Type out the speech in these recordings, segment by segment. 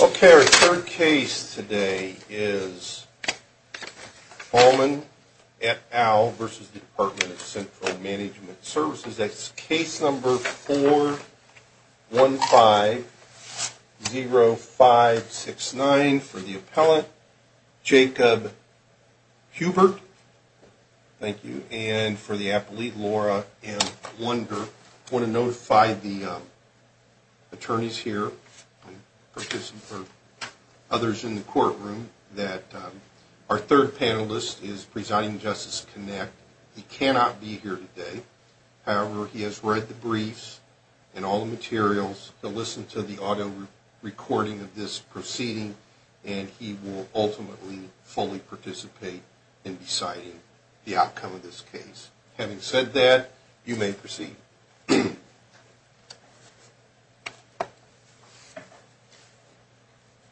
Okay, our third case today is Bauman et al. v. The Department of Central Management Services. That's case number 4150569 for the appellant, Jacob Hubert. Thank you. And for the appellate, Laura M. Lunder. I want to notify the attorneys here and others in the courtroom that our third panelist is presiding in Justice Connect. He cannot be here today. However, he has read the briefs and all the materials. He'll listen to the audio recording of this proceeding, and he will ultimately fully participate in deciding the outcome of this case. Having said that, you may proceed.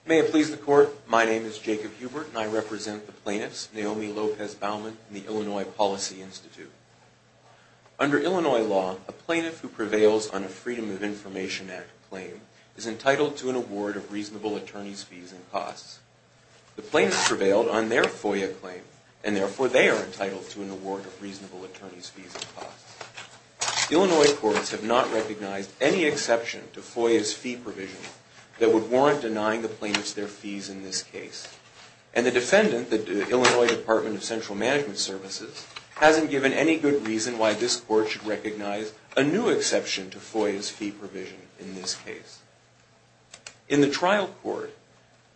May it please the Court, my name is Jacob Hubert, and I represent the plaintiffs, Naomi Lopez Bauman and the Illinois Policy Institute. Under Illinois law, a plaintiff who prevails on a Freedom of Information Act claim is entitled to an award of reasonable attorney's fees and costs. The plaintiffs prevailed on their FOIA claim, and therefore they are entitled to an award of reasonable attorney's fees and costs. Illinois courts have not recognized any exception to FOIA's fee provision that would warrant denying the plaintiffs their fees in this case. And the defendant, the Illinois Department of Central Management Services, hasn't given any good reason why this court should recognize a new exception to FOIA's fee provision in this case. In the trial court,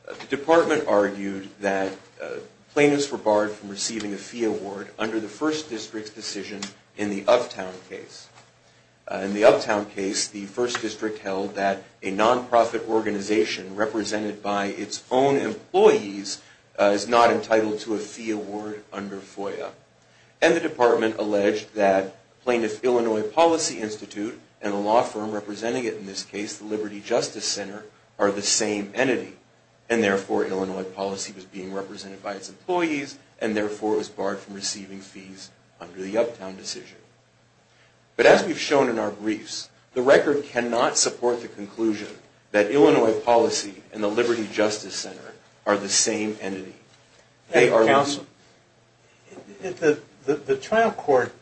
the department argued that plaintiffs were barred from receiving a fee award under the First District's decision in the Uptown case. In the Uptown case, the First District held that a nonprofit organization represented by its own employees is not entitled to a fee award under FOIA. And the department alleged that plaintiffs Illinois Policy Institute and a law firm representing it in this case, the Liberty Justice Center, are the same entity. And therefore Illinois Policy was being represented by its employees, and therefore it was barred from receiving fees under the Uptown decision. But as we've shown in our briefs, the record cannot support the conclusion that Illinois Policy and the Liberty Justice Center are the same entity. The trial court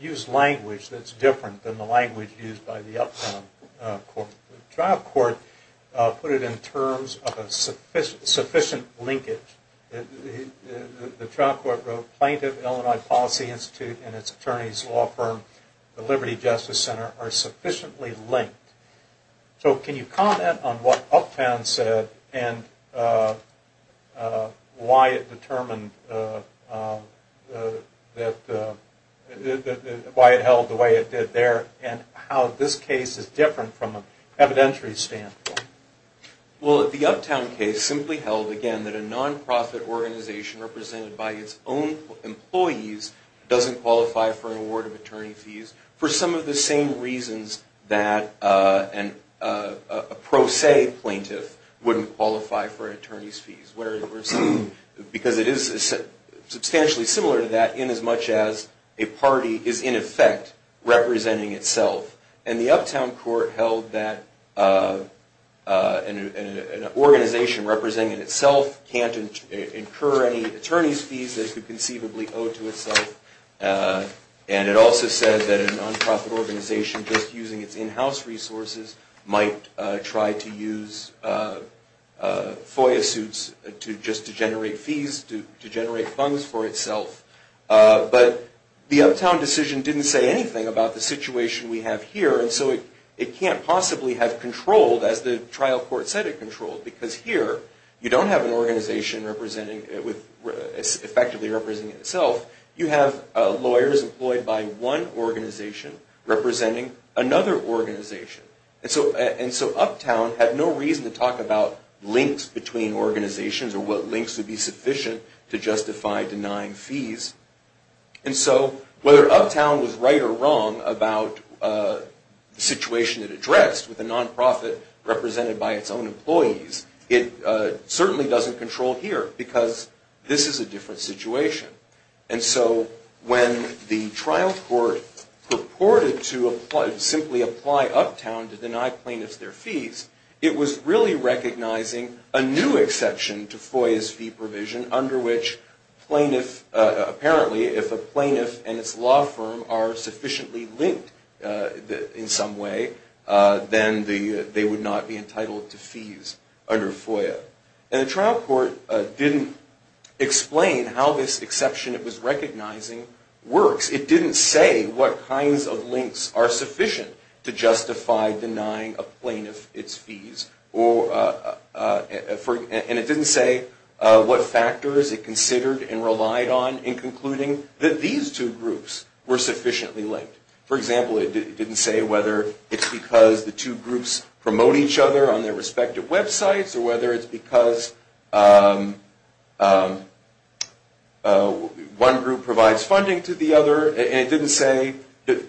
used language that's different than the language used by the Uptown court. The trial court put it in terms of a sufficient linkage. The trial court wrote, Plaintiff Illinois Policy Institute and its attorney's law firm, the Liberty Justice Center, are sufficiently linked. So can you comment on what Uptown said and why it held the way it did there, and how this case is different from an evidentiary standpoint? Well, the Uptown case simply held, again, that a nonprofit organization represented by its own employees doesn't qualify for an award of attorney fees for some of the same reasons that a pro se plaintiff wouldn't qualify for an attorney's fees. Because it is substantially similar to that in as much as a party is, in effect, representing itself. And the Uptown court held that an organization representing itself can't incur any attorney's fees that it could conceivably owe to itself. And it also said that a nonprofit organization just using its in-house resources might try to use FOIA suits just to generate fees, to generate funds for itself. But the Uptown decision didn't say anything about the situation we have here, and so it can't possibly have controlled, as the trial court said it controlled. Because here, you don't have an organization effectively representing itself. You have lawyers employed by one organization representing another organization. And so Uptown had no reason to talk about links between organizations or what links would be sufficient to justify denying fees. And so whether Uptown was right or wrong about the situation it addressed with a nonprofit represented by its own employees, it certainly doesn't control here. Because this is a different situation. And so when the trial court purported to simply apply Uptown to deny plaintiffs their fees, it was really recognizing a new exception to FOIA's fee provision under which apparently if a plaintiff and its law firm are sufficiently linked in some way, then they would not be entitled to fees under FOIA. And the trial court didn't explain how this exception it was recognizing works. It didn't say what kinds of links are sufficient to justify denying a plaintiff its fees. And it didn't say what factors it considered and relied on in concluding that these two groups were sufficiently linked. For example, it didn't say whether it's because the two groups promote each other on their respective websites or whether it's because one group provides funding to the other. And it didn't say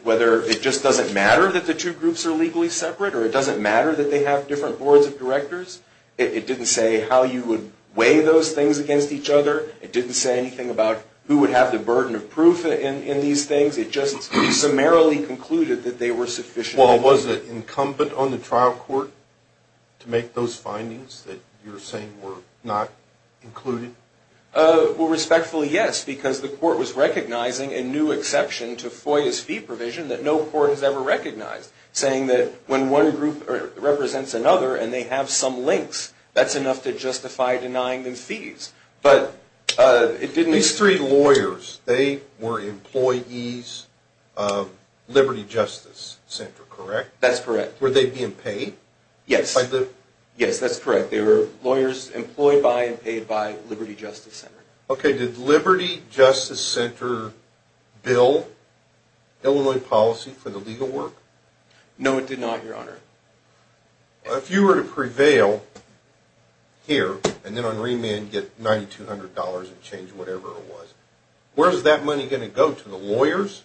whether it just doesn't matter that the two groups are legally separate or it doesn't matter that they have different boards of directors. It didn't say how you would weigh those things against each other. It didn't say anything about who would have the burden of proof in these things. It just summarily concluded that they were sufficiently linked. Well, was it incumbent on the trial court to make those findings that you're saying were not included? Well, respectfully, yes, because the court was recognizing a new exception to FOIA's fee provision that no court has ever recognized, saying that when one group represents another and they have some links, that's enough to justify denying them fees. These three lawyers, they were employees of Liberty Justice Center, correct? That's correct. Were they being paid? Yes. Yes, that's correct. They were lawyers employed by and paid by Liberty Justice Center. Okay. Did Liberty Justice Center bill Illinois policy for the legal work? No, it did not, Your Honor. If you were to prevail here and then on remand get $9,200 and change whatever it was, where is that money going to go, to the lawyers,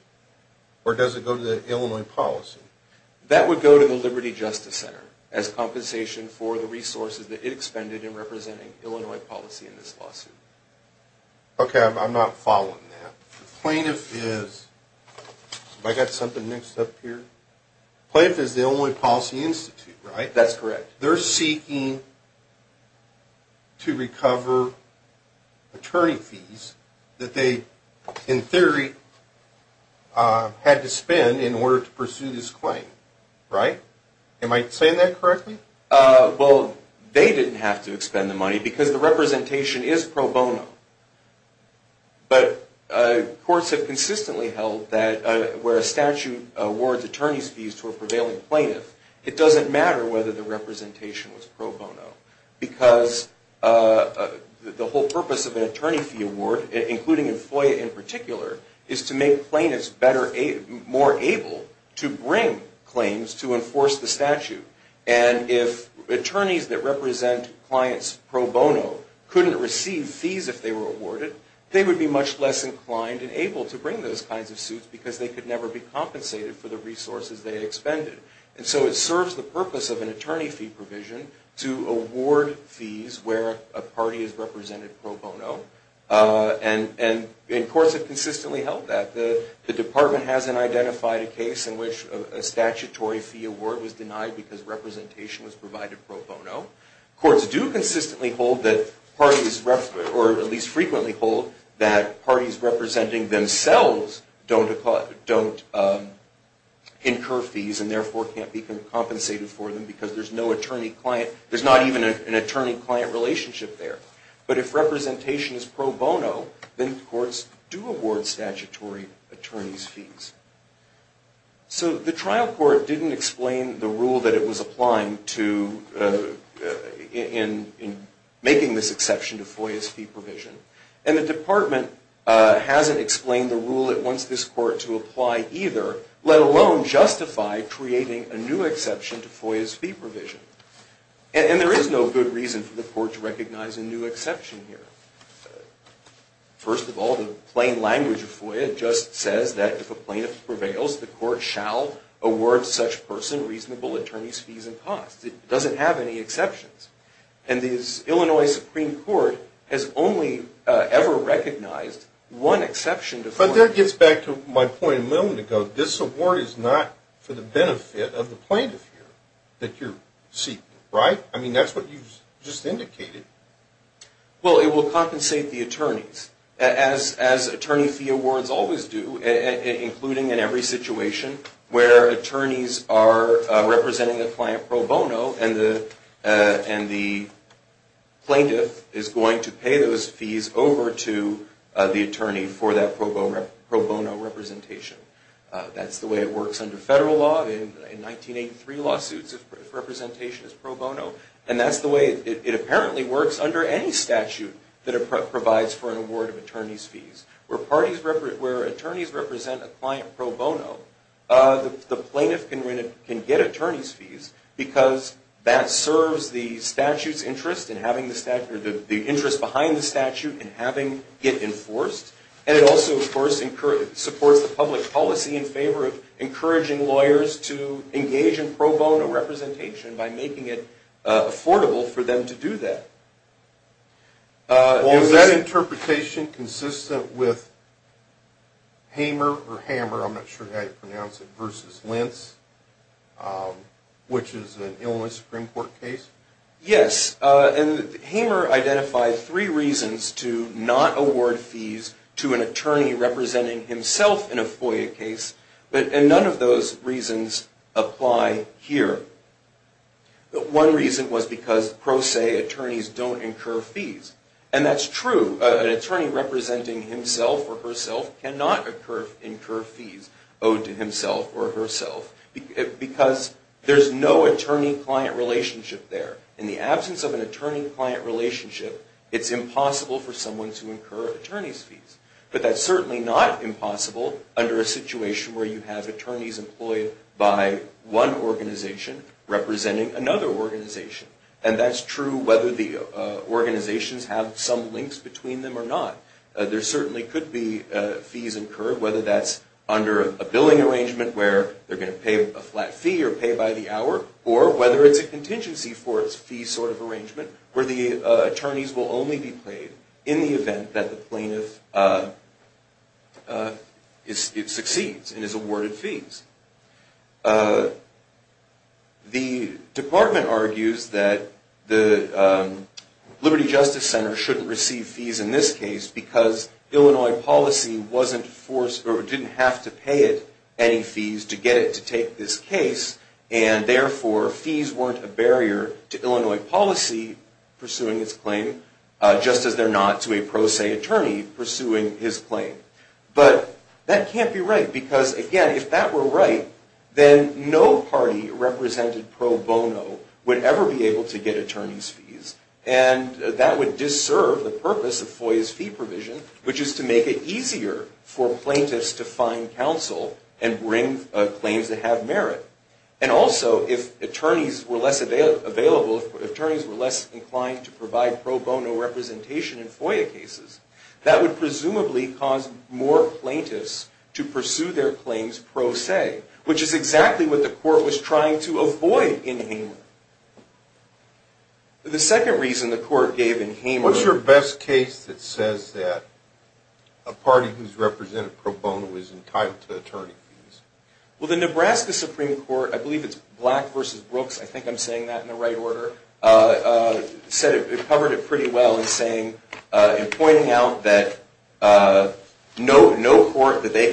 or does it go to the Illinois policy? That would go to the Liberty Justice Center as compensation for the resources that it expended in representing Illinois policy in this lawsuit. Okay, I'm not following that. The plaintiff is, have I got something mixed up here? The plaintiff is the Illinois Policy Institute, right? That's correct. They're seeking to recover attorney fees that they, in theory, had to spend in order to pursue this claim, right? Am I saying that correctly? Well, they didn't have to expend the money because the representation is pro bono. But courts have consistently held that where a statute awards attorney fees to a prevailing plaintiff, it doesn't matter whether the representation was pro bono because the whole purpose of an attorney fee award, including in FOIA in particular, is to make plaintiffs better, more able to bring claims to enforce the statute. And if attorneys that represent clients pro bono couldn't receive fees if they were awarded, they would be much less inclined and able to bring those kinds of suits because they could never be compensated for the resources they expended. And so it serves the purpose of an attorney fee provision to award fees where a party is represented pro bono. And courts have consistently held that. The Department hasn't identified a case in which a statutory fee award was denied because representation was provided pro bono. Courts do consistently hold that parties, or at least frequently hold, that parties representing themselves don't incur fees and therefore can't be compensated for them because there's no attorney-client. There's not even an attorney-client relationship there. But if representation is pro bono, then courts do award statutory attorneys fees. So the trial court didn't explain the rule that it was applying to in making this exception to FOIA's fee provision. And the Department hasn't explained the rule it wants this court to apply either, let alone justify creating a new exception to FOIA's fee provision. And there is no good reason for the court to recognize a new exception here. First of all, the plain language of FOIA just says that if a plaintiff prevails, the court shall award such person reasonable attorney's fees and costs. It doesn't have any exceptions. And the Illinois Supreme Court has only ever recognized one exception to FOIA. But that gets back to my point a moment ago. This award is not for the benefit of the plaintiff here that you're seeking, right? I mean, that's what you just indicated. Well, it will compensate the attorneys, as attorney fee awards always do, including in every situation where attorneys are representing a client pro bono and the plaintiff is going to pay those fees over to the attorney for that pro bono representation. That's the way it works under federal law. In 1983 lawsuits, representation is pro bono. And that's the way it apparently works under any statute that provides for an award of attorney's fees. Where attorneys represent a client pro bono, the plaintiff can get attorney's fees because that serves the statute's interest and having the interest behind the statute and having it enforced. And it also, of course, supports the public policy in favor of encouraging lawyers to engage in pro bono representation by making it affordable for them to do that. Is that interpretation consistent with Hamer or Hammer, I'm not sure how you pronounce it, versus Lentz, which is an Illinois Supreme Court case? Yes. And Hamer identified three reasons to not award fees to an attorney representing himself in a FOIA case. And none of those reasons apply here. One reason was because pros say attorneys don't incur fees. And that's true. An attorney representing himself or herself cannot incur fees owed to himself or herself because there's no attorney-client relationship there. In the absence of an attorney-client relationship, it's impossible for someone to incur attorney's fees. But that's certainly not impossible under a situation where you have attorneys employed by one organization representing another organization. And that's true whether the organizations have some links between them or not. There certainly could be fees incurred, whether that's under a billing arrangement where they're going to pay a flat fee or pay by the hour, or whether it's a contingency for its fee sort of arrangement where the attorneys will only be paid in the event that the plaintiff succeeds and is awarded fees. The department argues that the Liberty Justice Center shouldn't receive fees in this case because Illinois policy wasn't forced or didn't have to pay it any fees to get it to take this case. And therefore, fees weren't a barrier to Illinois policy pursuing this claim, just as they're not to a pros say attorney pursuing his claim. But that can't be right because, again, if that were right, then no party represented pro bono would ever be able to get attorney's fees. And that would disserve the purpose of FOIA's fee provision, which is to make it easier for plaintiffs to find counsel and bring claims that have merit. And also, if attorneys were less available, if attorneys were less inclined to provide pro bono representation in FOIA cases, that would presumably cause more plaintiffs to pursue their claims pro se, which is exactly what the court was trying to avoid in Hamer. The second reason the court gave in Hamer... Well, the Nebraska Supreme Court, I believe it's Black v. Brooks, I think I'm saying that in the right order, said it covered it pretty well in saying and pointing out that no court that they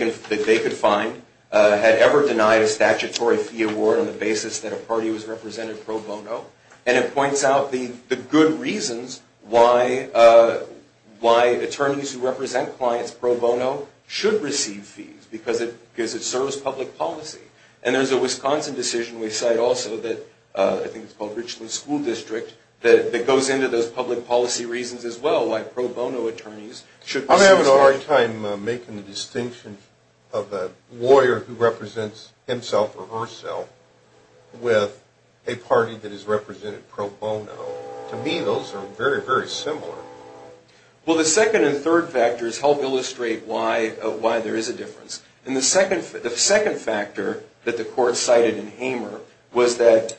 could find had ever denied a statutory fee award on the basis that a party was represented pro bono. And it points out the good reasons why attorneys who represent clients pro bono should receive fees, because it serves public policy. And there's a Wisconsin decision we cite also that, I think it's called Richland School District, that goes into those public policy reasons as well, why pro bono attorneys should receive... I'm having a hard time making the distinction of a lawyer who represents himself or herself with a party that is represented pro bono. To me, those are very, very similar. Well, the second and third factors help illustrate why there is a difference. And the second factor that the court cited in Hamer was that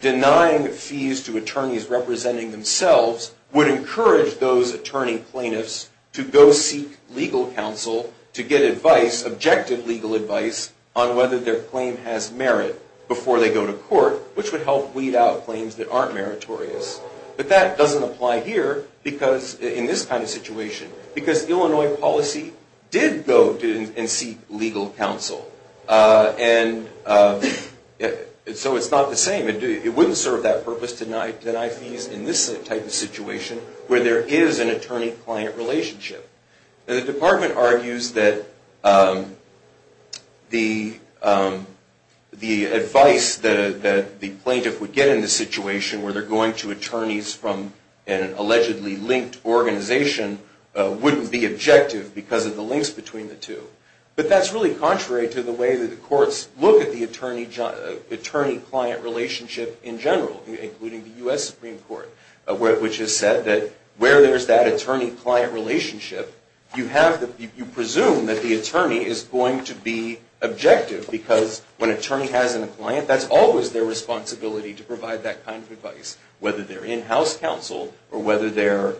denying fees to attorneys representing themselves would encourage those attorney plaintiffs to go seek legal counsel to get advice, objective legal advice, on whether their claim has merit before they go to court, which would help weed out claims that aren't meritorious. But that doesn't apply here in this kind of situation, because Illinois policy did go and seek legal counsel. And so it's not the same. It wouldn't serve that purpose to deny fees in this type of situation where there is an attorney-client relationship. Now, the department argues that the advice that the plaintiff would get in this situation where they're going to attorneys from an allegedly linked organization wouldn't be objective because of the links between the two. But that's really contrary to the way that the courts look at the attorney-client relationship in general, including the U.S. Supreme Court, which has said that where there's that attorney-client relationship, you presume that the attorney is going to be objective, because when an attorney has a client, that's always their responsibility to provide that kind of advice, whether they're in-house counsel, or whether they're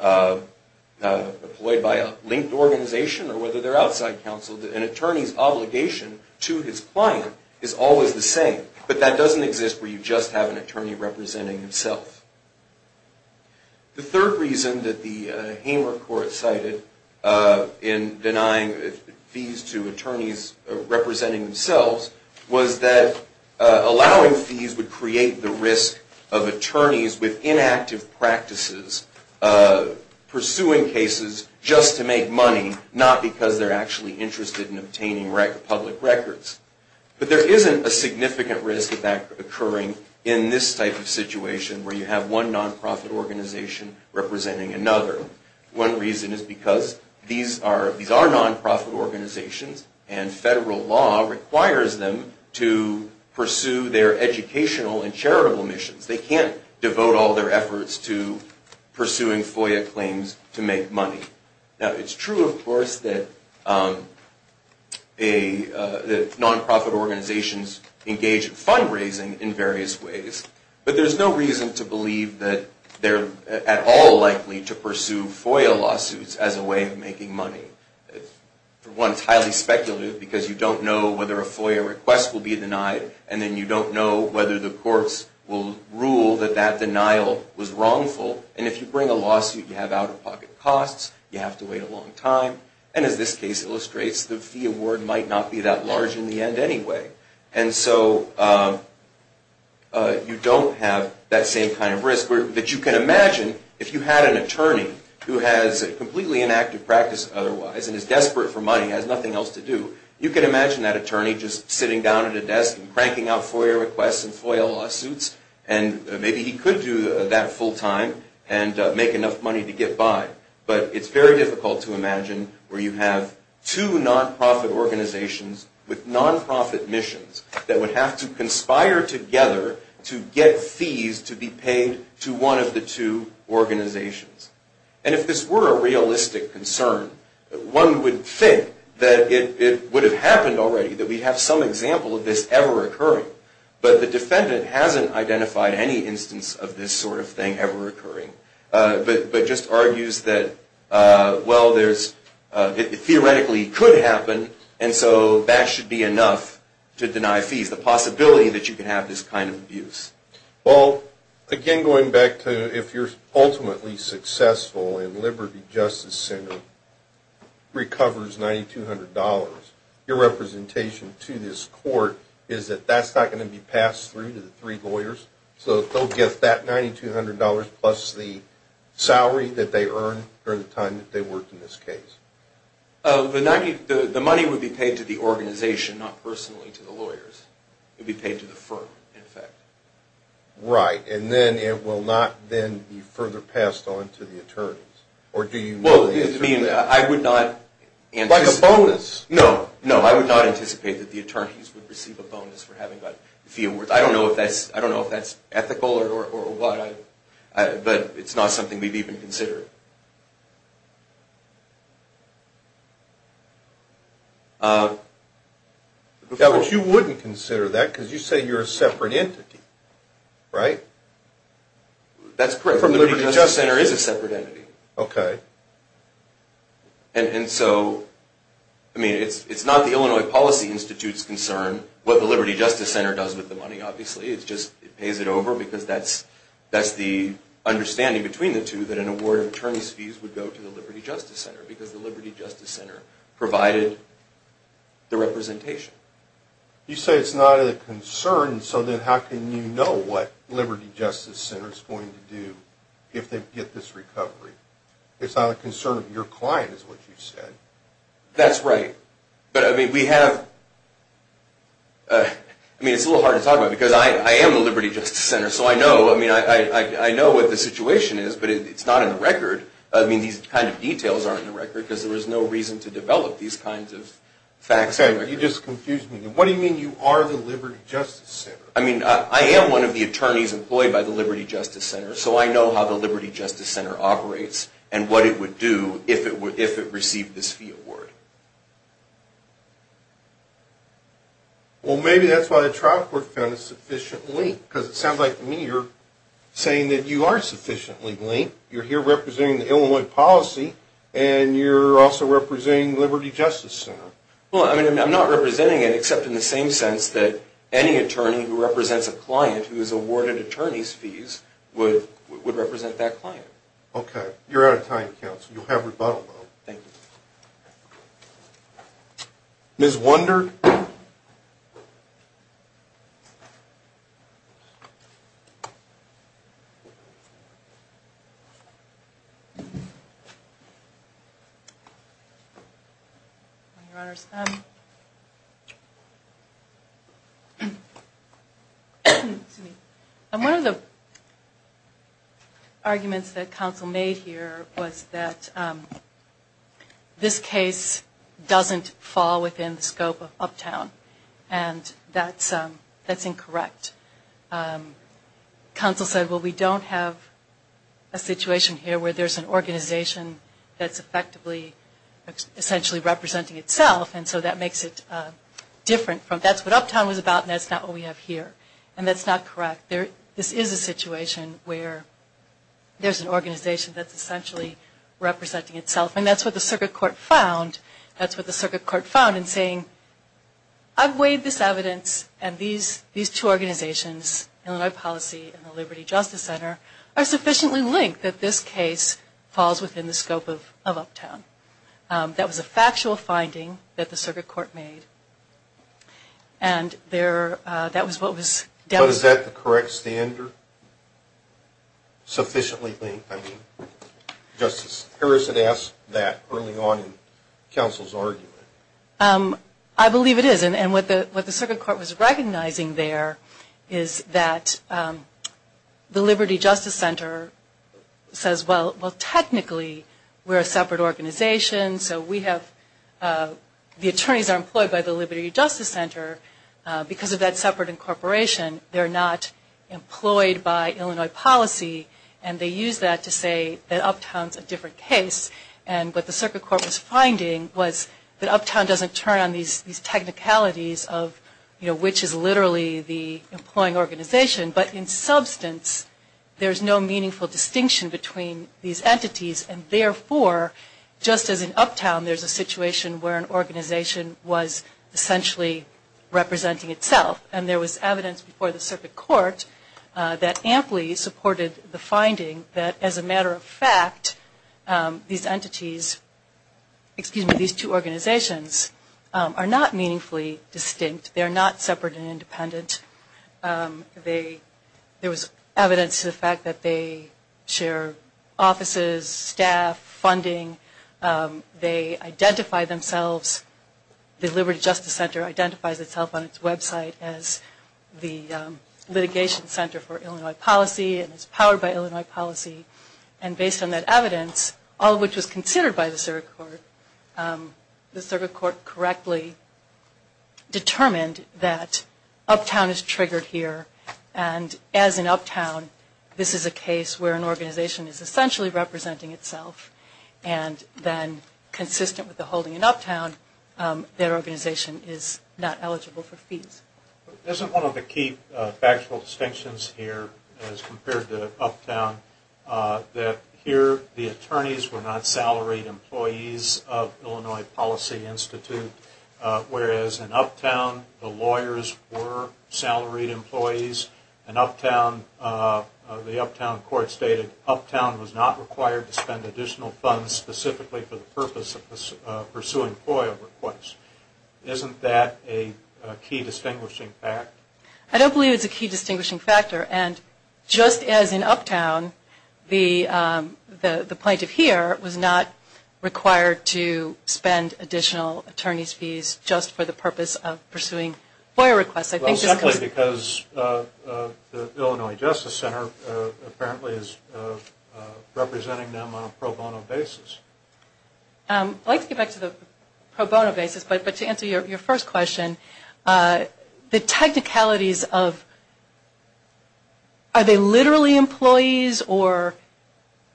employed by a linked organization, or whether they're outside counsel. An attorney's obligation to his client is always the same. But that doesn't exist where you just have an attorney representing himself. The third reason that the Hamer Court cited in denying fees to attorneys representing themselves was that allowing fees would create the risk of attorneys with inactive practices pursuing cases just to make money, not because they're actually interested in obtaining public records. But there isn't a significant risk of that occurring in this type of situation, where you have one nonprofit organization representing another. One reason is because these are nonprofit organizations, and federal law requires them to pursue their educational and charitable missions. They can't devote all their efforts to pursuing FOIA claims to make money. Now, it's true, of course, that nonprofit organizations engage in fundraising in various ways, but there's no reason to believe that they're at all likely to pursue FOIA lawsuits as a way of making money. For one, it's highly speculative, because you don't know whether a FOIA request will be denied, and then you don't know whether the courts will rule that that denial was wrongful. And if you bring a lawsuit, you have out-of-pocket costs, you have to wait a long time, and as this case illustrates, the fee award might not be that large in the end anyway. And so you don't have that same kind of risk that you can imagine if you had an attorney who has a completely inactive practice otherwise and is desperate for money and has nothing else to do. You can imagine that attorney just sitting down at a desk and cranking out FOIA requests and FOIA lawsuits, and maybe he could do that full time and make enough money to get by. But it's very difficult to imagine where you have two nonprofit organizations with nonprofit missions that would have to conspire together to get fees to be paid to one of the two organizations. And if this were a realistic concern, one would think that it would have happened already, that we'd have some example of this ever occurring. But the defendant hasn't identified any instance of this sort of thing ever occurring, but just argues that, well, it theoretically could happen, and so that should be enough to deny fees, the possibility that you could have this kind of abuse. Well, again, going back to if you're ultimately successful in Liberty Justice Center, and the attorney recovers $9,200, your representation to this court is that that's not going to be passed through to the three lawyers, so they'll get that $9,200 plus the salary that they earned during the time that they worked in this case. The money would be paid to the organization, not personally to the lawyers. It would be paid to the firm, in effect. Right, and then it will not then be further passed on to the attorneys. Well, I mean, I would not anticipate... Like a bonus. No, no, I would not anticipate that the attorneys would receive a bonus for having got the fee awards. I don't know if that's ethical or what, but it's not something we'd even consider. Yeah, but you wouldn't consider that because you say you're a separate entity, right? That's correct. The Liberty Justice Center is a separate entity. Okay. And so, I mean, it's not the Illinois Policy Institute's concern, what the Liberty Justice Center does with the money, obviously. It just pays it over because that's the understanding between the two, that an award of attorney's fees would go to the Liberty Justice Center because the Liberty Justice Center provided the representation. You say it's not a concern, so then how can you know what Liberty Justice Center is going to do if they get this recovery? It's not a concern of your client, is what you said. That's right. But, I mean, we have... I mean, it's a little hard to talk about because I am the Liberty Justice Center, so I know what the situation is, but it's not in the record. I mean, these kind of details aren't in the record because there was no reason to develop these kinds of facts. You just confused me. What do you mean you are the Liberty Justice Center? I mean, I am one of the attorneys employed by the Liberty Justice Center, so I know how the Liberty Justice Center operates and what it would do if it received this fee award. Well, maybe that's why the trial court found it sufficiently linked because it sounds like to me you're saying that you are sufficiently linked. You're here representing the Illinois Policy, and you're also representing Liberty Justice Center. Well, I mean, I'm not representing it except in the same sense that any attorney who represents a client who is awarded attorney's fees would represent that client. Okay. You're out of time, counsel. You'll have rebuttal, though. Thank you. Ms. Wunder? One of the arguments that counsel made here was that this case doesn't fall within the scope of Uptown, and that's incorrect. Counsel said, well, we don't have a situation here where there's an organization that's effectively essentially representing itself, and so that makes it different. That's what Uptown was about, and that's not what we have here, and that's not correct. This is a situation where there's an organization that's essentially representing itself, and that's what the circuit court found. That's what the circuit court found in saying, I've weighed this evidence, and these two organizations, Illinois Policy and the Liberty Justice Center, are sufficiently linked that this case falls within the scope of Uptown. That was a factual finding that the circuit court made, and that was what was dealt with. So is that the correct standard, sufficiently linked? I mean, Justice Harris had asked that early on in counsel's argument. I believe it is, and what the circuit court was recognizing there is that the Liberty Justice Center says, well, technically we're a separate organization, so the attorneys are employed by the Liberty Justice Center. Because of that separate incorporation, they're not employed by Illinois Policy, and they use that to say that Uptown's a different case, and what the circuit court was finding was that Uptown doesn't turn on these technicalities of which is literally the employing organization, but in substance there's no meaningful distinction between these entities, and therefore just as in Uptown there's a situation where an organization was essentially representing itself. And there was evidence before the circuit court that amply supported the finding that as a matter of fact these entities, excuse me, these two organizations are not meaningfully distinct. They're not separate and independent. There was evidence to the fact that they share offices, staff, funding. They identify themselves, the Liberty Justice Center identifies itself on its website as the litigation center for Illinois Policy and is powered by Illinois Policy, and based on that evidence, all of which was considered by the circuit court, the circuit court correctly determined that Uptown is triggered here, and as in Uptown this is a case where an organization is essentially representing itself, and then consistent with the holding in Uptown, that organization is not eligible for fees. Isn't one of the key factual distinctions here as compared to Uptown that here the lawyers were salaried employees and Uptown, the Uptown court stated Uptown was not required to spend additional funds specifically for the purpose of pursuing FOIA requests. Isn't that a key distinguishing fact? I don't believe it's a key distinguishing factor, and just as in Uptown the plaintiff here was not required to spend additional attorney's fees just for the purpose of pursuing FOIA requests. Well, exactly, because the Illinois Justice Center apparently is representing them on a pro bono basis. I'd like to get back to the pro bono basis, but to answer your first question, the technicalities of are they literally employees or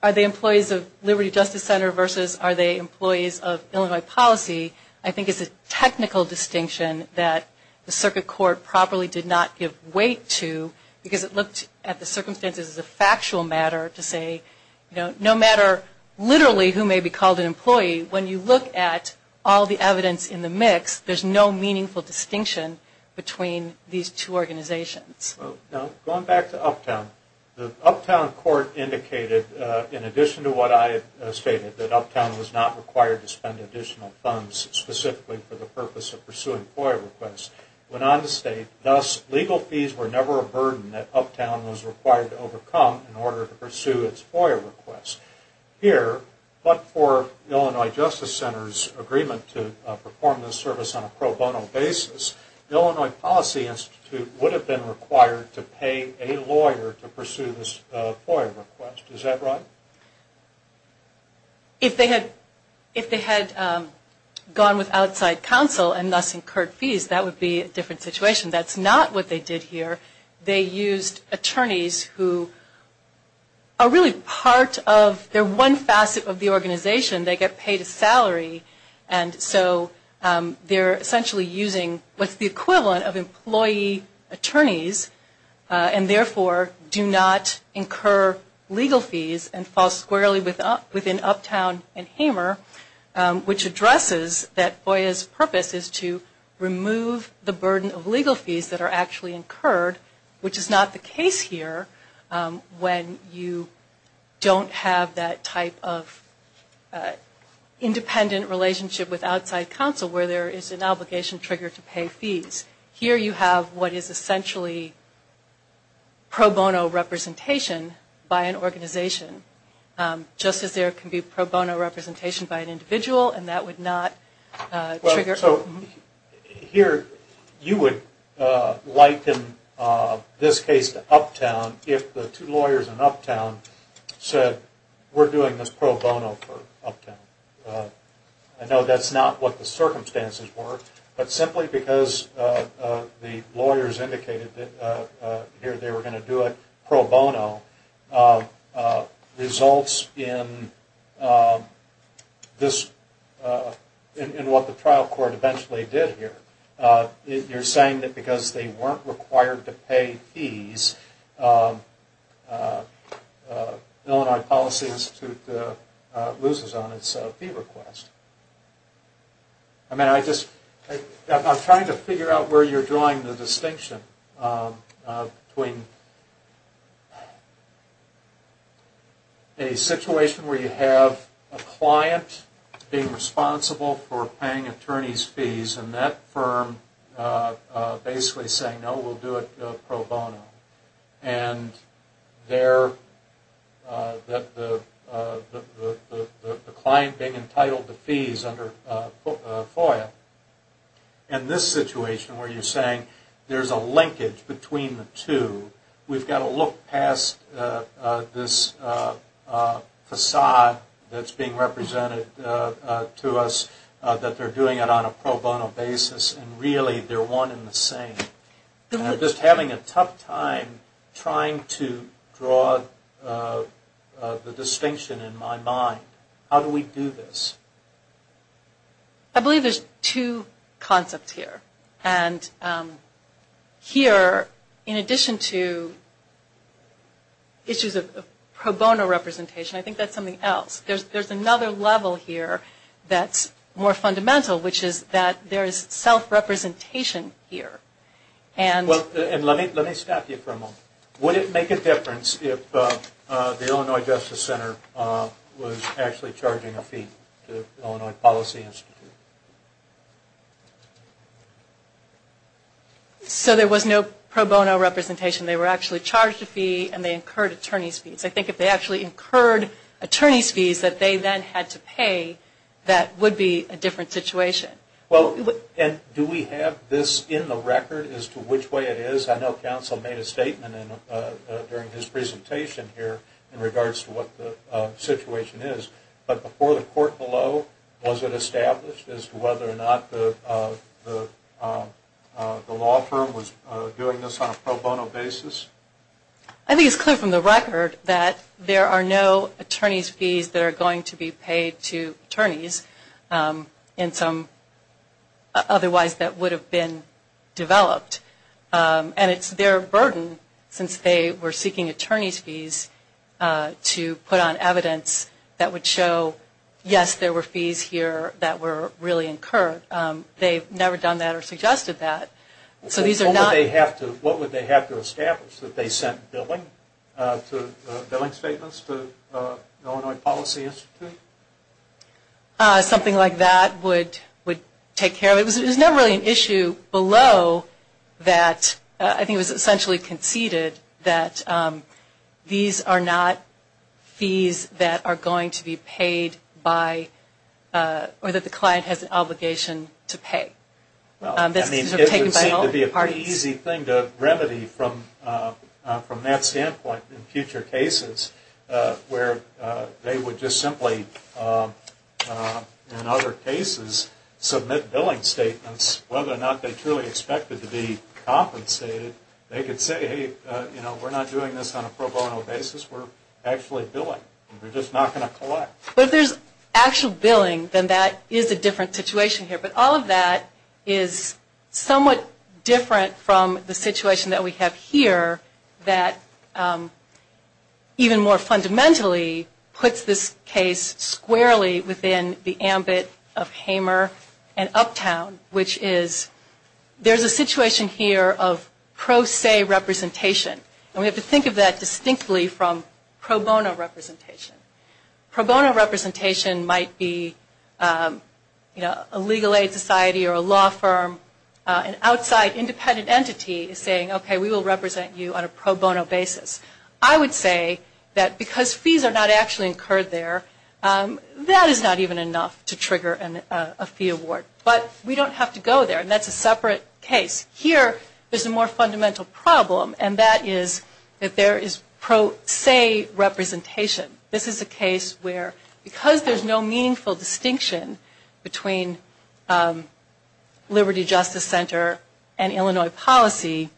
are they employees of the Illinois policy I think is a technical distinction that the circuit court probably did not give weight to because it looked at the circumstances as a factual matter to say no matter literally who may be called an employee, when you look at all the evidence in the mix, there's no meaningful distinction between these two organizations. Going back to Uptown, the Uptown court indicated in addition to what I had specifically for the purpose of pursuing FOIA requests, went on to state, thus legal fees were never a burden that Uptown was required to overcome in order to pursue its FOIA requests. Here, but for Illinois Justice Center's agreement to perform this service on a pro bono basis, the Illinois Policy Institute would have been required to pay a lawyer to pursue this FOIA request. Is that right? If they had gone with outside counsel and thus incurred fees, that would be a different situation. That's not what they did here. They used attorneys who are really part of, they're one facet of the organization. They get paid a salary and so they're essentially using what's the equivalent of employee attorneys and therefore do not incur legal fees and fall squarely within Uptown and Hamer, which addresses that FOIA's purpose is to remove the burden of legal fees that are actually incurred, which is not the case here when you don't have that type of independent relationship with outside counsel where there is an obligation trigger to pay fees. Here you have what is essentially pro bono representation by an organization, just as there can be pro bono representation by an individual and that would not trigger. Here you would liken this case to Uptown if the two lawyers in Uptown said we're doing this pro bono for Uptown. I know that's not what the circumstances were, but simply because the lawyers indicated that they were going to do it pro bono results in what the trial court eventually did here. You're saying that because they weren't required to pay fees, Illinois Policy Institute loses on its fee request. I'm trying to figure out where you're drawing the distinction between a situation where you have a client being responsible for paying attorney's fees and that firm basically saying no, we'll do it pro bono and that the client being entitled to fees under FOIA. In this situation where you're saying there's a linkage between the two, we've got to look past this facade that's being represented to us that they're doing it on a pro bono basis and really they're one and the same. I'm just having a tough time trying to draw the distinction in my mind. How do we do this? I believe there's two concepts here and here in addition to issues of pro bono representation, I think that's something else. There's another level here that's more fundamental which is that there's self-representation here. Let me stop you for a moment. Would it make a difference if the Illinois Justice Center was actually charging a fee to Illinois Policy Institute? There was no pro bono representation. I think if they actually incurred attorney's fees that they then had to pay, that would be a different situation. Do we have this in the record as to which way it is? I know counsel made a statement during his presentation here in regards to what the situation is, but before the court below was it established as to whether or not the law firm was doing this on a pro bono basis? I think it's clear from the record that there are no attorney's fees that are going to be paid to attorneys in some otherwise that would have been developed. And it's their burden since they were seeking attorney's fees to put on evidence that would show yes, there were fees here that were really incurred. They've never done that or suggested that. What would they have to establish? That they sent billing statements to Illinois Policy Institute? Something like that would take care of it. It was never really an issue below that. I think it was essentially conceded that these are not fees that are going to be paid by or that the client has an obligation to pay. It would seem to be an easy thing to remedy from that standpoint in future cases where they would just simply in other cases submit billing statements. Whether or not they truly expected to be compensated, they could say hey, we're not doing this on a pro bono basis. We're actually billing. We're just not going to collect. But if there's actual billing, then that is a different situation here. But all of that is somewhat different from the situation that we have here that even more fundamentally puts this case squarely within the ambit of Hamer and Uptown, which is there's a situation here of pro se representation. And we have to think of that distinctly from pro bono representation. Pro bono representation might be a legal aid society or a law firm, an outside independent entity saying okay, we will represent you on a pro bono basis. I would say that because fees are not actually incurred there, that is not even enough to trigger a fee award. But we don't have to go there, and that's a separate case. Here there's a more fundamental problem, and that is that there is pro se representation. This is a case where because there's no meaningful distinction between Liberty Justice Center and Illinois policy,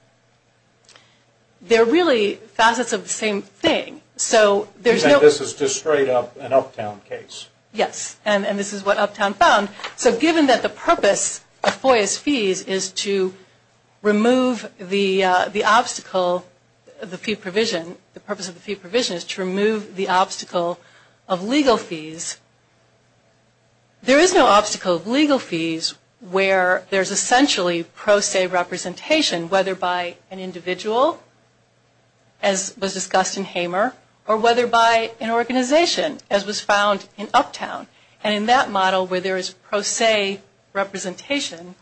they're really facets of the same thing. So there's no This is just straight up an Uptown case. Yes. And this is what Uptown found. So given that the purpose of FOIA's fees is to remove the obstacle, the fee provision is to remove the obstacle of legal fees, there is no obstacle of legal fees where there's essentially pro se representation, whether by an individual, as was discussed in Hamer, or whether by an organization, as was found in Uptown. And in that model where there is pro se representation,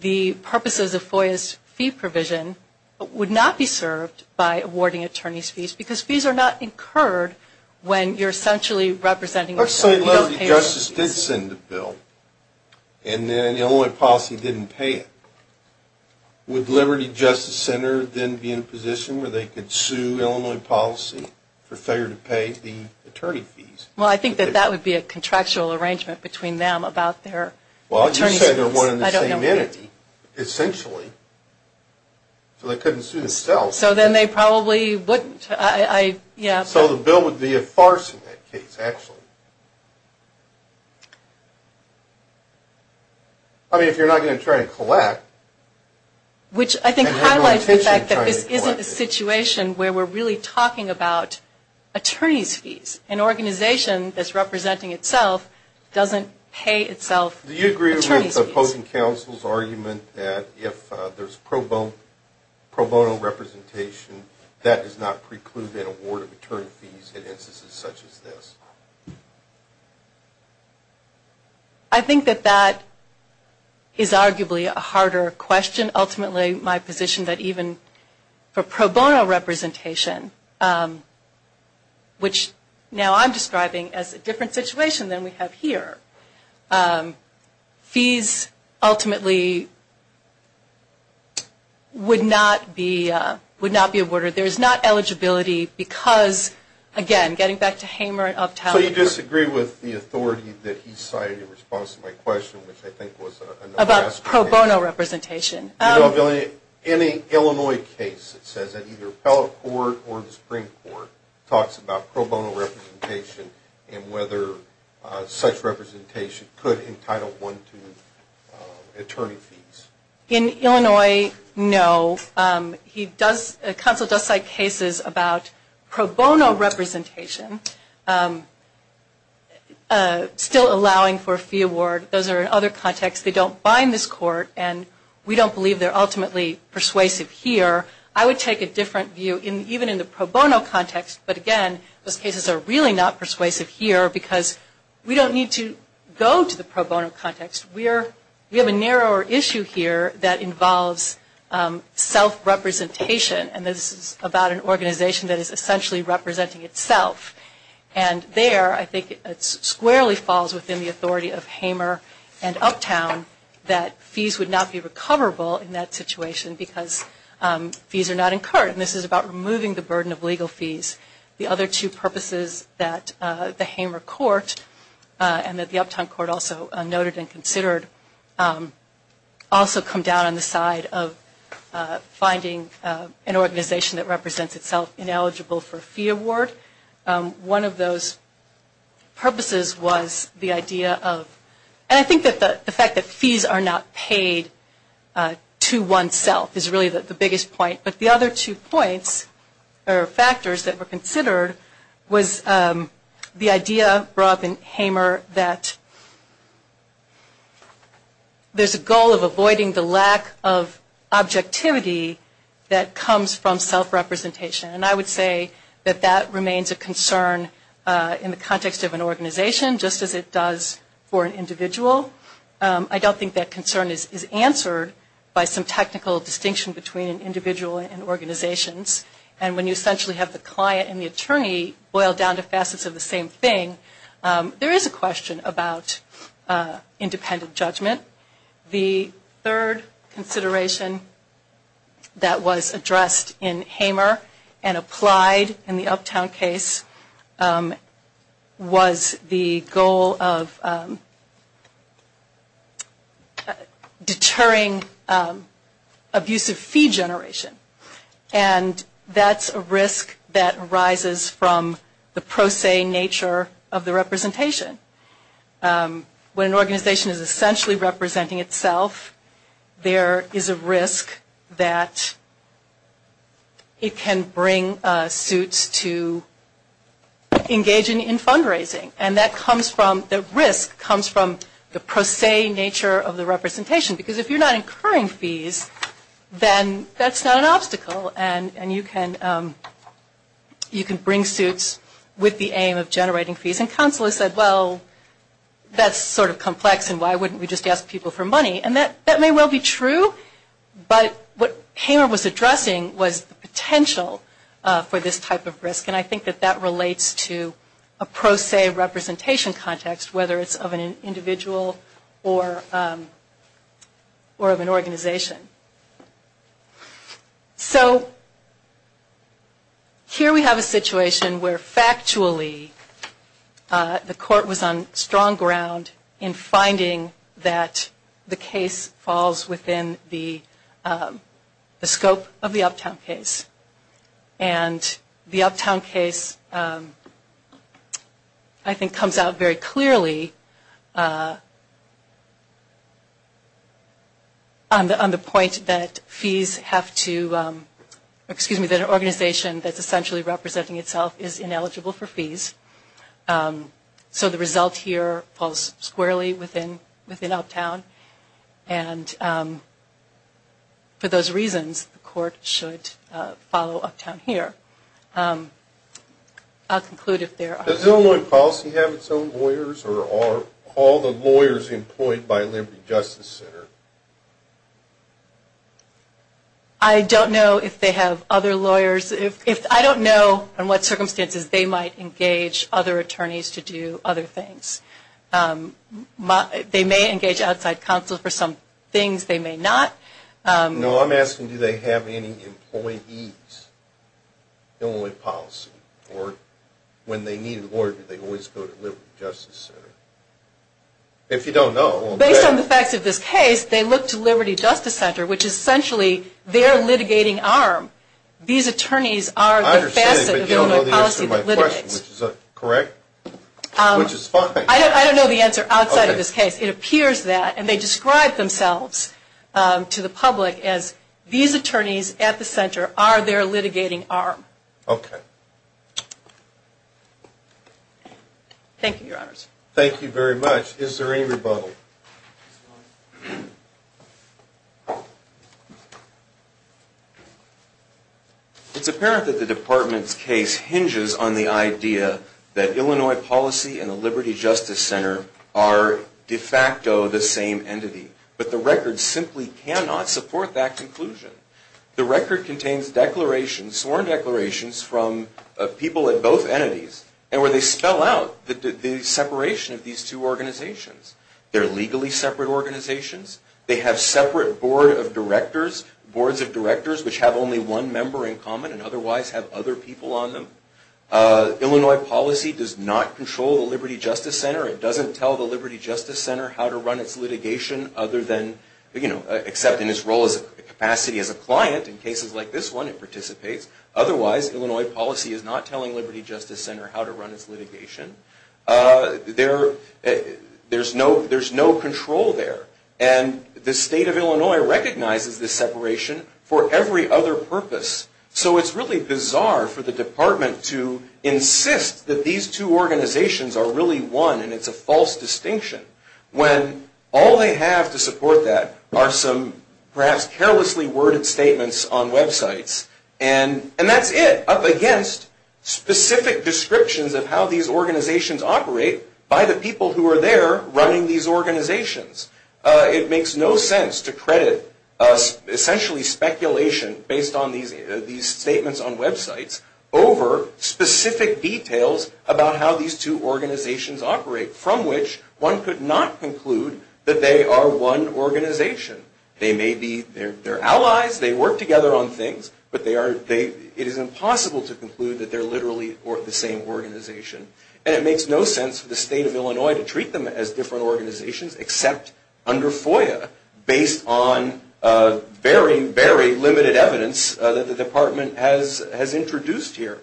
the purposes of awarding attorneys' fees, because fees are not incurred when you're essentially representing yourself. Let's say Liberty Justice did send a bill, and then Illinois policy didn't pay it. Would Liberty Justice Center then be in a position where they could sue Illinois policy for failure to pay the attorney fees? Well, I think that that would be a contractual arrangement between them about their attorneys' fees. Well, you said they're one and the same entity, essentially. So they couldn't sue themselves. So then they probably wouldn't. So the bill would be a farce in that case, actually. I mean, if you're not going to try and collect. Which I think highlights the fact that this isn't a situation where we're really talking about attorneys' fees. An organization that's representing itself doesn't pay itself attorneys' fees. Do you agree with the opposing counsel's argument that if there's pro bono representation, that does not preclude an award of attorney fees in instances such as this? I think that that is arguably a harder question. Ultimately, my position is that even for pro bono representation, which now I'm describing as a different situation than we have here, fees ultimately would not be awarded. There's not eligibility because, again, getting back to Hamer and Uptown. So you disagree with the authority that he cited in response to my question, which I think was a no-brainer. About pro bono representation. In an Illinois case, it says that either appellate court or the Supreme Court talks about pro bono representation and whether such representation could entitle one to attorney fees. In Illinois, no. The counsel does cite cases about pro bono representation still allowing for a fee award. Those are in other contexts. They don't bind this court, and we don't believe they're ultimately persuasive here. I would take a different view even in the pro bono context. But again, those cases are really not persuasive here because we don't need to go to the pro bono context. We have a narrower issue here that involves self-representation. And this is about an organization that is essentially representing itself. And there I think it squarely falls within the authority of Hamer and Uptown that fees would not be recoverable in that situation because fees are not incurred. And this is about removing the burden of legal fees. The other two purposes that the Hamer court and that the Uptown court also noted and considered also come down on the side of finding an organization that represents itself ineligible for a fee award. One of those purposes was the idea of, and I think that the fact that fees are not paid to oneself is really the biggest point. But the other two points or factors that were considered was the idea brought up in Hamer that there's a goal of avoiding the lack of objectivity that comes from self-representation. And I would say that that remains a concern in the context of an organization just as it does for an individual. I don't think that concern is answered by some technical distinction between individual and organizations. And when you essentially have the client and the attorney boiled down to facets of the same thing, there is a question about independent judgment. The third consideration that was addressed in Hamer and applied in the Uptown case was the goal of deterring abusive fee generation. And that's a risk that arises from the pro se nature of the representation. When an organization is essentially representing itself, there is a risk that it can bring suits to engaging in fundraising. And that comes from, the risk comes from the pro se nature of the representation. Because if you're not incurring fees, then that's not an obstacle. And you can bring suits with the aim of generating fees. And counselors said, well, that's sort of complex and why wouldn't we just ask people for money. And that may well be true. But what Hamer was addressing was the potential for this type of risk. And I think that that relates to a pro se representation context, whether it's of an individual or of an organization. So here we have a situation where factually the court was on strong ground in finding that the case falls within the scope of the Uptown case. And the Uptown case, I think, comes out very clearly on the point that fees have to, excuse me, that an organization that's essentially representing itself is ineligible for fees. So the result here falls squarely within Uptown. And for those reasons, the court should follow Uptown here. I'll conclude if there are. Does Illinois Policy have its own lawyers or are all the lawyers employed by Liberty Justice Center? I don't know if they have other lawyers. I don't know under what circumstances they might engage other attorneys to do other things. They may engage outside counsel for some things. They may not. No, I'm asking do they have any employees at Illinois Policy? Or when they need a lawyer, do they always go to Liberty Justice Center? If you don't know. Based on the facts of this case, they look to Liberty Justice Center, which is essentially their litigating arm. These attorneys are the facet of Illinois Policy that litigates. I understand, but you don't know the answer to my question, which is correct? Which is fine. I don't know the answer outside of this case. It appears that. And they describe themselves to the public as these attorneys at the center are their litigating arm. Okay. Thank you, Your Honors. Thank you very much. Is there any rebuttal? It's apparent that the Department's case hinges on the idea that Illinois Policy and the Liberty Justice Center are de facto the same entity. But the record simply cannot support that conclusion. The record contains declarations, sworn declarations from people at both entities and where they spell out the separation of these two organizations. They're legally separate organizations. They have separate boards of directors, which have only one member in common and otherwise have other people on them. Illinois Policy does not control the Liberty Justice Center. It doesn't tell the Liberty Justice Center how to run its litigation, except in its capacity as a client. In cases like this one, it participates. Otherwise, Illinois Policy is not telling Liberty Justice Center how to run its litigation. There's no control there. And the State of Illinois recognizes this separation for every other purpose. So it's really bizarre for the Department to insist that these two organizations are really one and it's a false distinction when all they have to support that are some perhaps carelessly worded statements on websites and that's it, up against specific descriptions of how these organizations operate by the people who are there running these organizations. It makes no sense to credit essentially speculation based on these statements on websites over specific details about how these two organizations operate, from which one could not conclude that they are one organization. They may be, they're allies, they work together on things, but it is impossible to conclude that they're literally the same organization. And it makes no sense for the State of Illinois to treat them as different organizations except under FOIA based on very, very limited evidence that the Department has introduced here.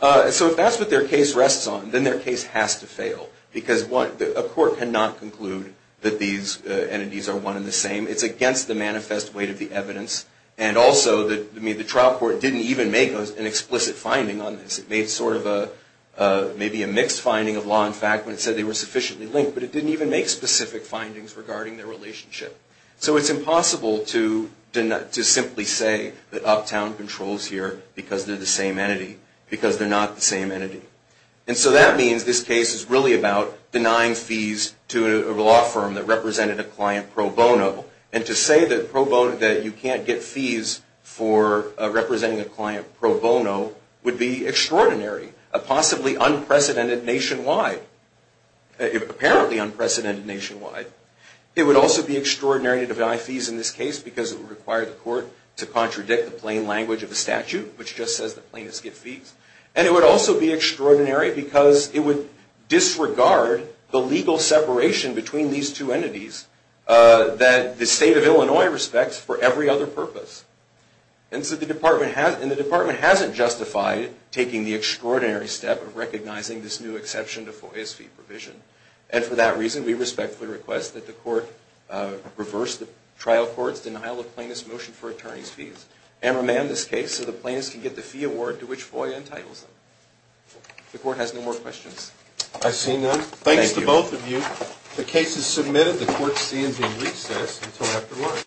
So if that's what their case rests on, then their case has to fail because a court cannot conclude that these entities are one and the same. It's against the manifest weight of the evidence. And also the trial court didn't even make an explicit finding on this. It made sort of a, maybe a mixed finding of law and fact when it said they were sufficiently linked, but it didn't even make specific findings regarding their relationship. So it's impossible to simply say that Uptown controls here because they're the same entity, because they're not the same entity. And so that means this case is really about denying fees to a law firm that represented a client pro bono. And to say that you can't get fees for representing a client pro bono would be extraordinary, possibly unprecedented nationwide, apparently unprecedented nationwide. It would also be extraordinary to deny fees in this case because it would require the court to contradict the plain language of the statute, which just says that plaintiffs get fees. And it would also be extraordinary because it would disregard the legal separation between these two entities that the state of Illinois respects for every other purpose. And so the department hasn't justified taking the extraordinary step of recognizing this new exception to FOIA's fee provision. And for that reason, we respectfully request that the court reverse the trial court's denial of plaintiff's motion for attorney's fees and remand this case so the plaintiffs can get the fee award to which FOIA entitles them. If the court has no more questions. I see none. Thanks to both of you. The case is submitted. The court stands in recess until after lunch.